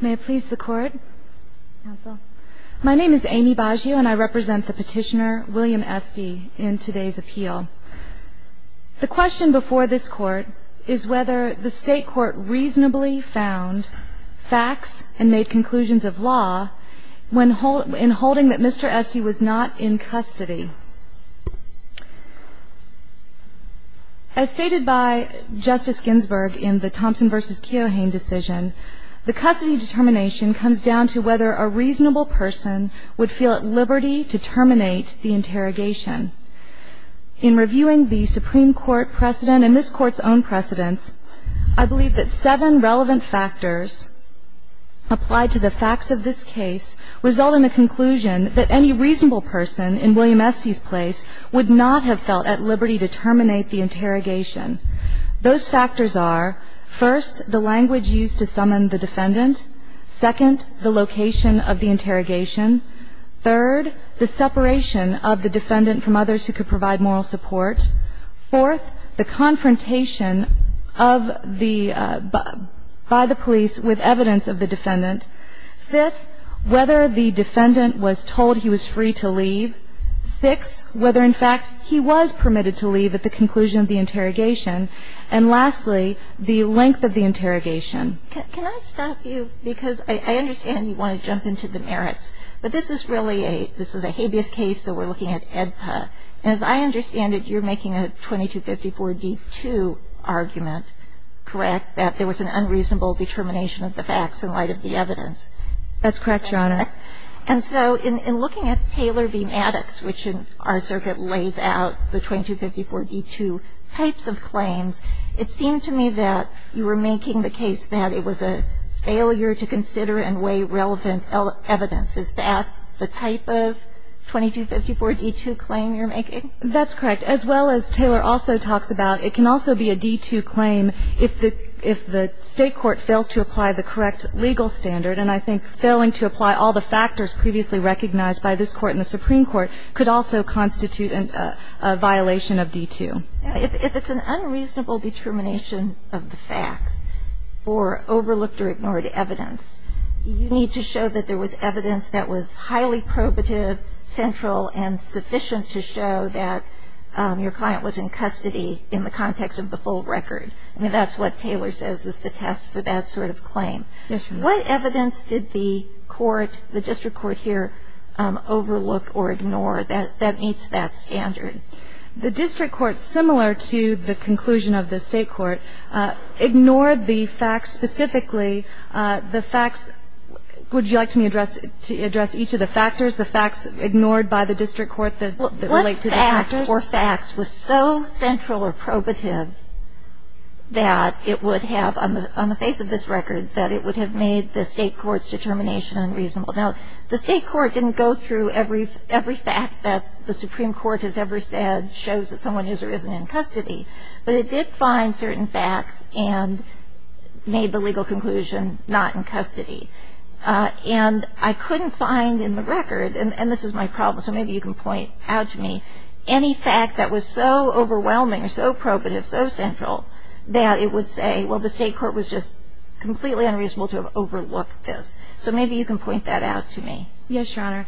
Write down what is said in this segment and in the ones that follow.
May it please the Court. My name is Amy Baggio and I represent the petitioner William Estey in today's appeal. The question before this Court is whether the State Court reasonably found facts and made conclusions of law in holding that Mr. Estey was not in custody. As stated by Justice Ginsburg in the Thompson v. Keohane decision, the custody determination comes down to whether a reasonable person would feel at liberty to terminate the interrogation. In reviewing the Supreme Court precedent and this Court's own precedents, I believe that seven relevant factors applied to the facts of this case result in the conclusion that any reasonable person in William Estey's place would not have felt at liberty to terminate the interrogation. Those factors are, first, the language used to summon the defendant, second, the location of the interrogation, third, the separation of the defendant from others who could provide moral support, fourth, the confrontation by the police with evidence of the defendant, fifth, whether the defendant was told he was free to leave, sixth, whether in fact he was permitted to leave at the conclusion of the interrogation, and lastly, the length of the interrogation. And I'm going to stop you because I understand you want to jump into the merits, but this is really a, this is a habeas case, so we're looking at AEDPA. And as I understand it, you're making a 2254d-2 argument, correct, that there was an unreasonable determination of the facts in light of the evidence. That's correct, Your Honor. And so in looking at Taylor v. Maddox, which in our circuit lays out the 2254d-2 types of claims, it seemed to me that you were making the case that it was a failure to consider and weigh relevant evidence. Is that the type of 2254d-2 claim you're making? That's correct. As well as Taylor also talks about, it can also be a d-2 claim if the State court fails to apply the correct legal standard. And I think failing to apply all the factors previously recognized by this Court and the Supreme Court could also constitute a violation of d-2. If it's an unreasonable determination of the facts or overlooked or ignored evidence, you need to show that there was evidence that was highly probative, central, and sufficient to show that your client was in custody in the context of the full record. I mean, that's what Taylor says is the test for that sort of claim. Yes, Your Honor. What evidence did the court, the district court here, overlook or ignore that meets that standard? The district court, similar to the conclusion of the State court, ignored the facts specifically. The facts – would you like me to address each of the factors? The facts ignored by the district court that relate to the factors? What fact or facts was so central or probative that it would have, on the face of this record, that it would have made the State court's determination unreasonable? Now, the State court didn't go through every fact that the Supreme Court has ever said shows that someone is or isn't in custody. But it did find certain facts and made the legal conclusion not in custody. And I couldn't find in the record – and this is my problem, so maybe you can point out to me – any fact that was so overwhelming or so probative, so central, that it would say, well, the State court was just completely unreasonable to have overlooked this. So maybe you can point that out to me. Yes, Your Honor.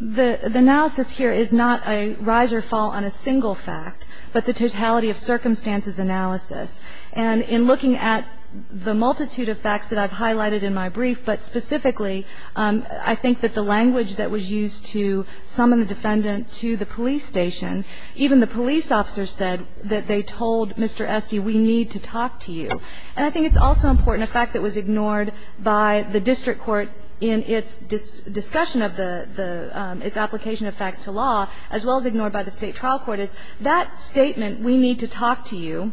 The analysis here is not a rise or fall on a single fact, but the totality of circumstances analysis. And in looking at the multitude of facts that I've highlighted in my brief, but specifically, I think that the language that was used to summon the defendant to the police station, even the police officer said that they told Mr. Esty, we need to talk to you. And I think it's also important, a fact that was ignored by the district court in its discussion of the – its application of facts to law, as well as ignored by the State trial court, is that statement, we need to talk to you,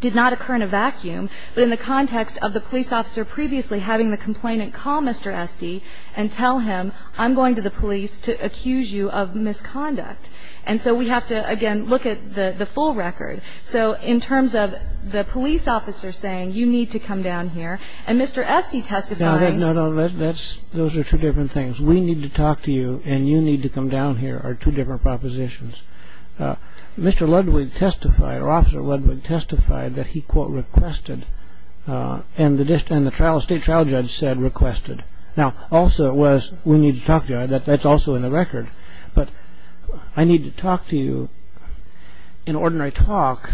did not occur in a vacuum, but in the context of the police officer previously having the complainant call Mr. Esty and tell him, I'm going to the police to accuse you of misconduct. And so we have to, again, look at the full record. So in terms of the police officer saying, you need to come down here, and Mr. Esty testifying – No, no, those are two different things. We need to talk to you, and you need to come down here are two different propositions. Mr. Ludwig testified, or Officer Ludwig testified that he, quote, requested, and the State trial judge said requested. Now, also it was, we need to talk to you. That's also in the record. But I need to talk to you. An ordinary talk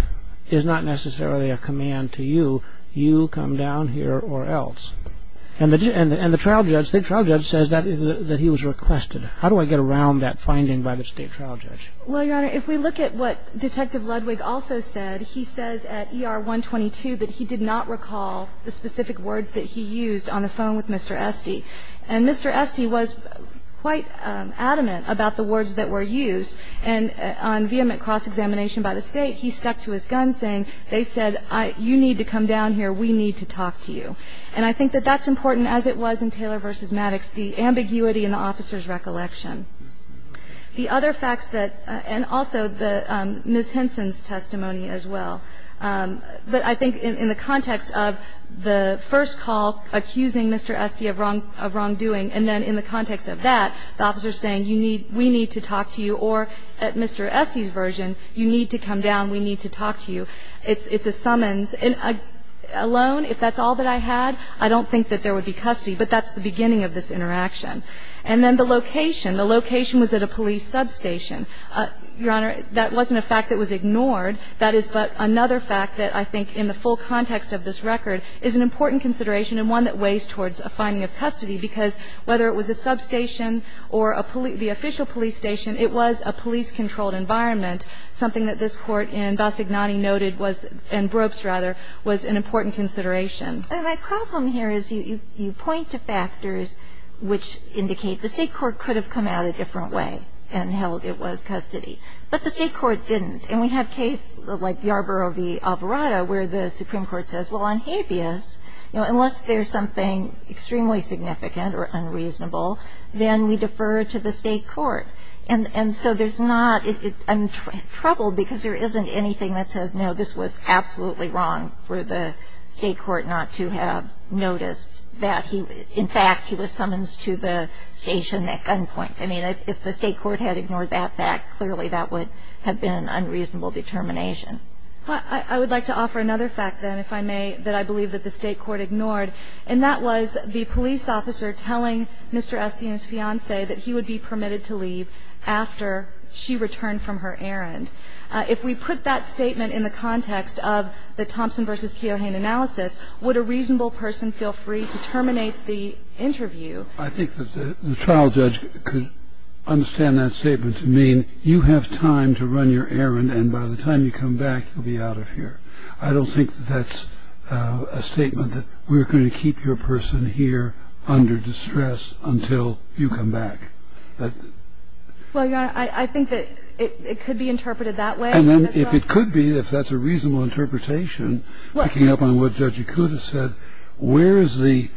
is not necessarily a command to you. You come down here or else. And the trial judge, the trial judge says that he was requested. How do I get around that finding by the State trial judge? Well, Your Honor, if we look at what Detective Ludwig also said, he says at ER-122 that he did not recall the specific words that he used on the phone with Mr. Esty. And Mr. Esty was quite adamant about the words that were used. And on vehement cross-examination by the State, he stuck to his gun, saying, they said, you need to come down here, we need to talk to you. And I think that that's important, as it was in Taylor v. Maddox, the ambiguity in the officer's recollection. The other facts that – and also Ms. Henson's testimony as well. But I think in the context of the first call accusing Mr. Esty of wrongdoing and then in the context of that, the officer's saying, you need – we need to talk to you, or at Mr. Esty's version, you need to come down, we need to talk to you. It's a summons. Alone, if that's all that I had, I don't think that there would be custody. But that's the beginning of this interaction. And then the location. The location was at a police substation. Your Honor, that wasn't a fact that was ignored. That is but another fact that I think, in the full context of this record, is an important consideration and one that weighs towards a finding of custody. Because whether it was a substation or a – the official police station, it was a police-controlled environment, something that this Court in Bassignani noted was – in Brooks, rather, was an important consideration. My problem here is you point to factors which indicate the State court could have come out a different way and held it was custody. But the State court didn't. And we have cases like Yarborough v. Alvarado where the Supreme Court says, well, on habeas, unless there's something extremely significant or unreasonable, then we defer to the State court. And so there's not – I'm troubled because there isn't anything that says, no, this was absolutely wrong for the State court not to have noticed that. In fact, he was summonsed to the station at gunpoint. I mean, if the State court had ignored that fact, clearly that would have been an unreasonable determination. I would like to offer another fact, then, if I may, that I believe that the State court ignored, and that was the police officer telling Mr. Estienne's fiancé that he would be permitted to leave after she returned from her errand. If we put that statement in the context of the Thompson v. Keohane analysis, would a reasonable person feel free to terminate the interview? I think that the trial judge could understand that statement to mean you have time to run your errand, and by the time you come back, you'll be out of here. I don't think that that's a statement that we're going to keep your person here under distress until you come back. Well, Your Honor, I think that it could be interpreted that way. And if it could be, if that's a reasonable interpretation, picking up on what Judge Yakuta said, where is the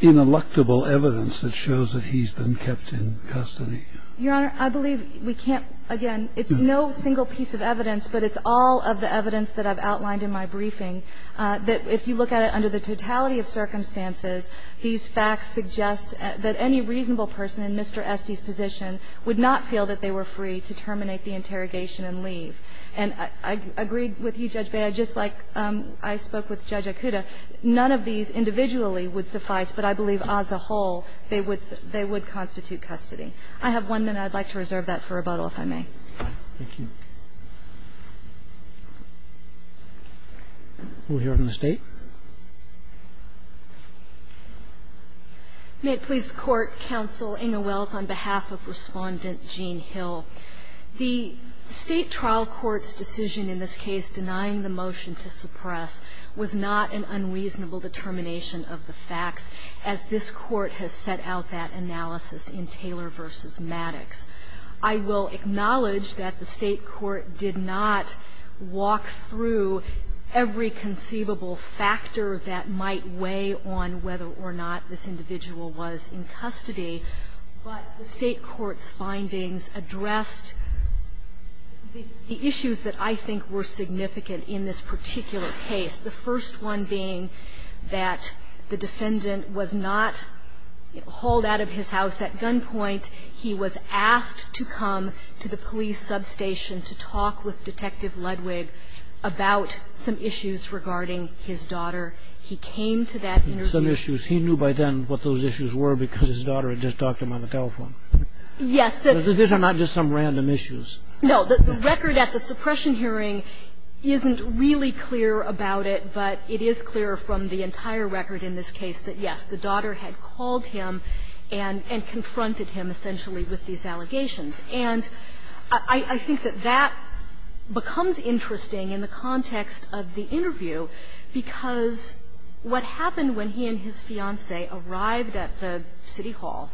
ineluctable evidence that shows that he's been kept in custody? Your Honor, I believe we can't, again, it's no single piece of evidence, but it's all of the evidence that I've outlined in my briefing, that if you look at it under the totality of circumstances, these facts suggest that any reasonable person in Mr. Estienne's position would not feel that they were free to terminate the interrogation and leave. And I agreed with you, Judge Beyer, just like I spoke with Judge Yakuta, none of these individually would suffice, but I believe as a whole, they would constitute custody. I have one minute. I'd like to reserve that for rebuttal, if I may. Thank you. We'll hear from the State. May it please the Court, Counsel Inge Wells, on behalf of Respondent Jean Hill. The State trial court's decision in this case denying the motion to suppress was not an unreasonable determination of the facts, as this Court has set out that analysis in Taylor v. Maddox. I will acknowledge that the State court did not walk through every conceivable factor that might weigh on whether or not this individual was in custody, but the State court's findings addressed the issues that I think were significant in this particular case, the first one being that the defendant was not hauled out of his house at gunpoint. He was asked to come to the police substation to talk with Detective Ludwig about some issues regarding his daughter. He came to that interview. He was asked to come to the police substation to talk with Detective Ludwig about some issues. He knew by then what those issues were because his daughter had just talked to him on the telephone. Yes. These are not just some random issues. No. The record at the suppression hearing isn't really clear about it, but it is clear from the entire record in this case that, yes, the daughter had called him and confronted him essentially with these allegations. And I think that that becomes interesting in the context of the interview, because what happened when he and his fiancé arrived at the city hall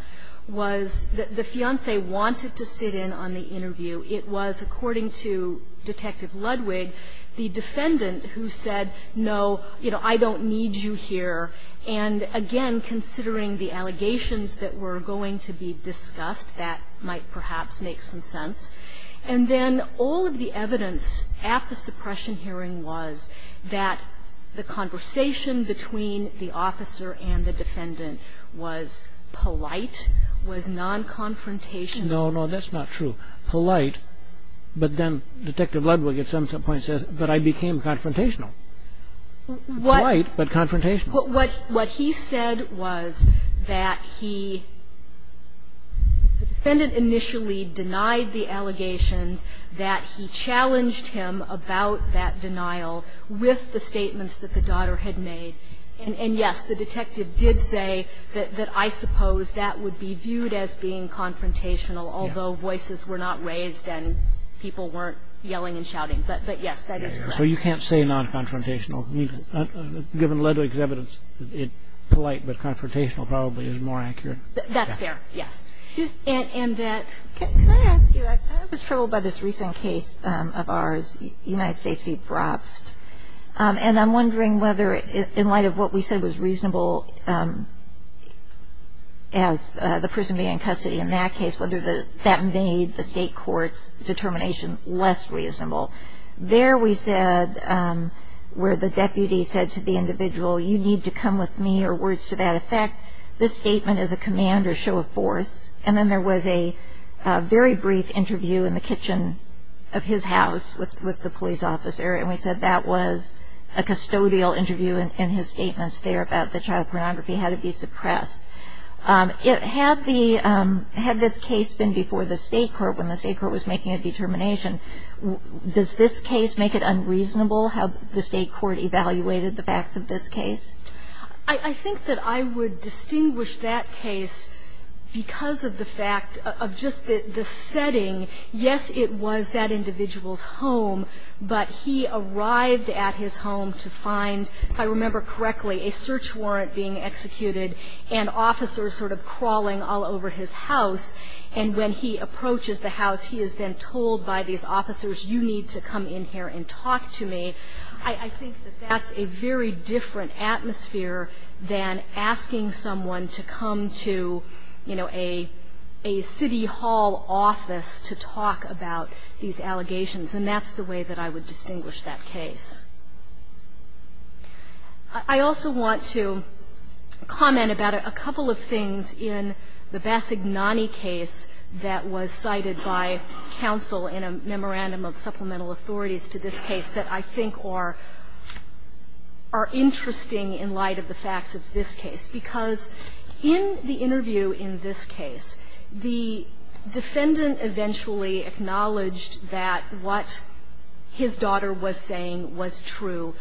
was the fiancé wanted to sit in on the interview. It was, according to Detective Ludwig, the defendant who said, no, you know, I don't need you here. And, again, considering the allegations that were going to be discussed, that might perhaps make some sense. And then all of the evidence at the suppression hearing was that the conversation between the officer and the defendant was polite, was non-confrontational. No, no, that's not true. Polite, but then Detective Ludwig at some point says, but I became confrontational. Polite, but confrontational. What he said was that he – the defendant initially denied the allegations that he challenged him about that denial with the statements that the daughter had made. And, yes, the detective did say that I suppose that would be viewed as being confrontational, although voices were not raised and people weren't yelling and shouting. But, yes, that is correct. So you can't say non-confrontational. Given Ludwig's evidence, polite but confrontational probably is more accurate. That's fair, yes. And that – Can I ask you, I was troubled by this recent case of ours, United States v. Brobst. And I'm wondering whether, in light of what we said was reasonable as the person being in custody in that case, whether that made the state court's determination less reasonable. There we said, where the deputy said to the individual, you need to come with me or words to that effect. This statement is a command or show of force. And then there was a very brief interview in the kitchen of his house with the police officer. And we said that was a custodial interview and his statements there about the child pornography had to be suppressed. Had this case been before the state court when the state court was making a determination, does this case make it unreasonable how the state court evaluated the facts of this case? I think that I would distinguish that case because of the fact of just the setting. Yes, it was that individual's home, but he arrived at his home to find, if I remember correctly, a search warrant being executed and officers sort of crawling all over his house. And when he approaches the house, he is then told by these officers, you need to come in here and talk to me. I think that that's a very different atmosphere than asking someone to come to, you know, a city hall office to talk about these allegations. And that's the way that I would distinguish that case. I also want to comment about a couple of things in the Bassignani case that was cited by counsel in a memorandum of supplemental authorities to this case that I think are interesting in light of the facts of this case, because in the interview in this case, the defendant eventually acknowledged that what his daughter was saying was true,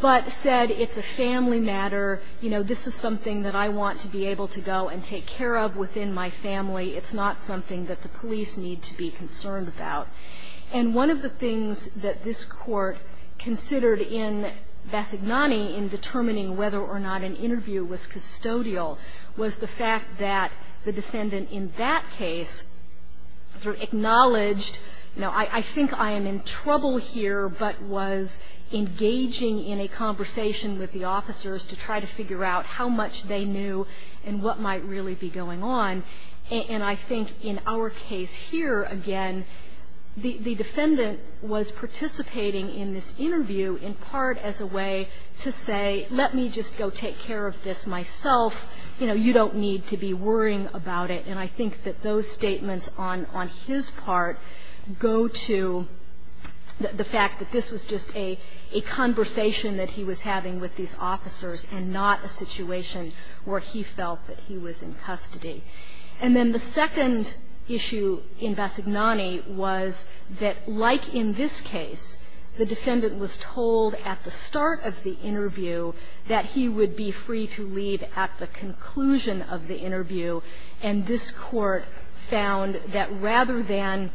but said it's a family matter, you know, this is something that I want to be able to go and take care of within my family. It's not something that the police need to be concerned about. And one of the things that this Court considered in Bassignani in determining whether or not an interview was custodial was the fact that the defendant in that case sort of acknowledged, you know, I think I am in trouble here, but was engaging in a conversation with the officers to try to figure out how much they knew and what might really be going on. And I think in our case here, again, the defendant was participating in this interview in part as a way to say, let me just go take care of this myself. You know, you don't need to be worrying about it. And I think that those statements on his part go to the fact that this was just a conversation that he was having with these officers and not a situation where he felt that he was in custody. And then the second issue in Bassignani was that, like in this case, the defendant was told at the start of the interview that he would be free to leave at the conclusion of the interview, and this Court found that rather than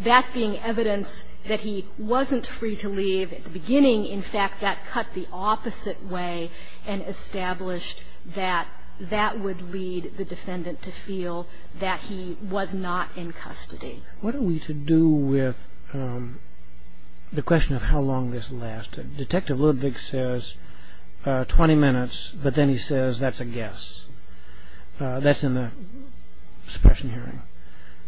that being evidence that he wasn't free to leave at the beginning, in fact, that cut the opposite way and established that that would lead the defendant to feel that he was not in custody. What are we to do with the question of how long this lasted? Detective Ludwig says 20 minutes, but then he says that's a guess. That's in the suppression hearing.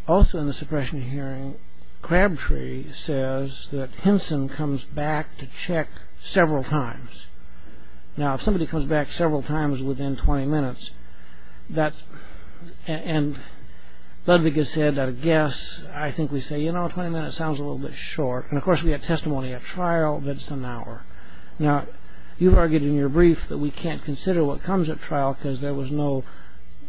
Also in the suppression hearing, Crabtree says that Hinson comes back to check several times. Now, if somebody comes back several times within 20 minutes, and Ludwig has said that a guess, I think we say, you know, 20 minutes sounds a little bit short. And, of course, we have testimony at trial that's an hour. Now, you've argued in your brief that we can't consider what comes at trial because there was no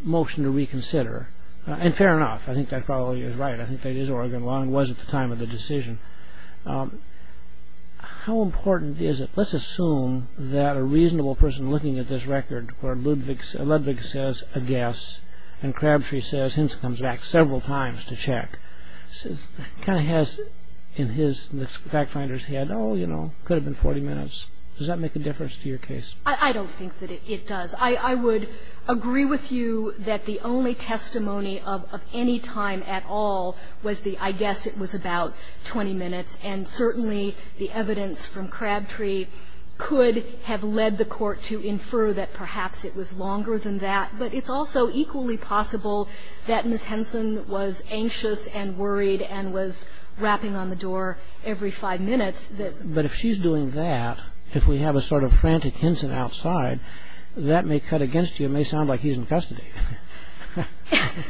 motion to reconsider. And fair enough. I think that probably is right. I think that is Oregon Law and it was at the time of the decision. How important is it? Let's assume that a reasonable person looking at this record where Ludwig says a guess and Crabtree says Hinson comes back several times to check. Kind of has in his back finder's head, oh, you know, could have been 40 minutes. Does that make a difference to your case? I don't think that it does. I would agree with you that the only testimony of any time at all was the I guess it was about 20 minutes. And certainly the evidence from Crabtree could have led the court to infer that perhaps it was longer than that. But it's also equally possible that Ms. Hinson was anxious and worried and was rapping on the door every five minutes. But if she's doing that, if we have a sort of frantic Hinson outside, that may cut against you. It may sound like he's in custody.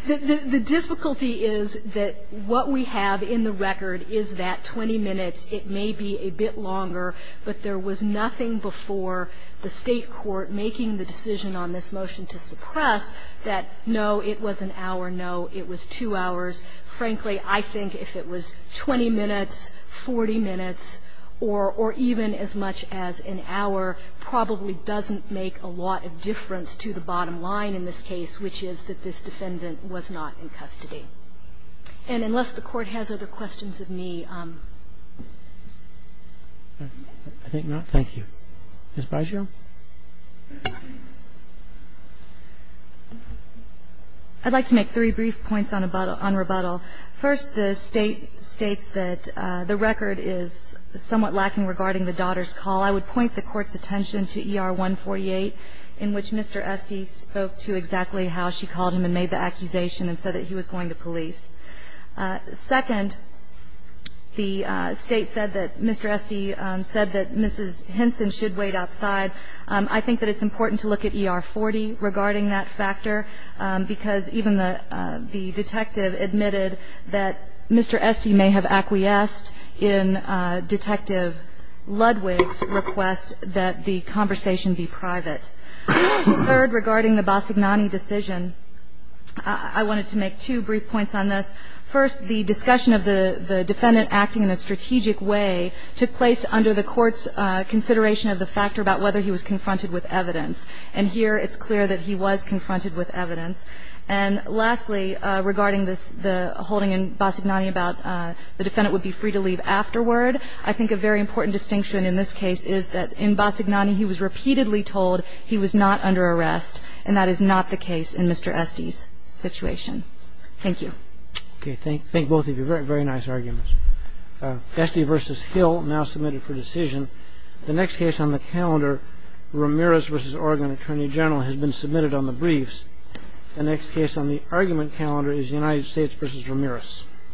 The difficulty is that what we have in the record is that 20 minutes. It may be a bit longer, but there was nothing before the State court making the decision on this motion to suppress that, no, it was an hour, no, it was two hours. Frankly, I think if it was 20 minutes, 40 minutes, or even as much as an hour, probably doesn't make a lot of difference to the bottom line in this case, which is that this defendant was not in custody. And unless the Court has other questions of me. Roberts. I think not. Thank you. Ms. Byshew. I'd like to make three brief points on rebuttal. First, the State states that the record is somewhat lacking regarding the daughter's call. I would point the Court's attention to ER 148, in which Mr. Esty spoke to exactly how she called him and made the accusation and said that he was going to police. Second, the State said that Mr. Esty said that Mrs. Henson should wait outside. I think that it's important to look at ER 40 regarding that factor, because even the detective admitted that Mr. Esty may have acquiesced in Detective Ludwig's request that the conversation be private. Third, regarding the Bassignani decision, I wanted to make two brief points on this. First, the discussion of the defendant acting in a strategic way took place under the Court's consideration of the factor about whether he was confronted with evidence. And here it's clear that he was confronted with evidence. And lastly, regarding the holding in Bassignani about the defendant would be free to leave afterward, I think a very important distinction in this case is that in Bassignani he was repeatedly told he was not under arrest, and that is not the case in Mr. Esty's situation. Thank you. Okay. Thank both of you. Very nice arguments. Esty v. Hill, now submitted for decision. The next case on the calendar, Ramirez v. Oregon Attorney General, has been submitted on the briefs. The next case on the argument calendar is United States v. Ramirez.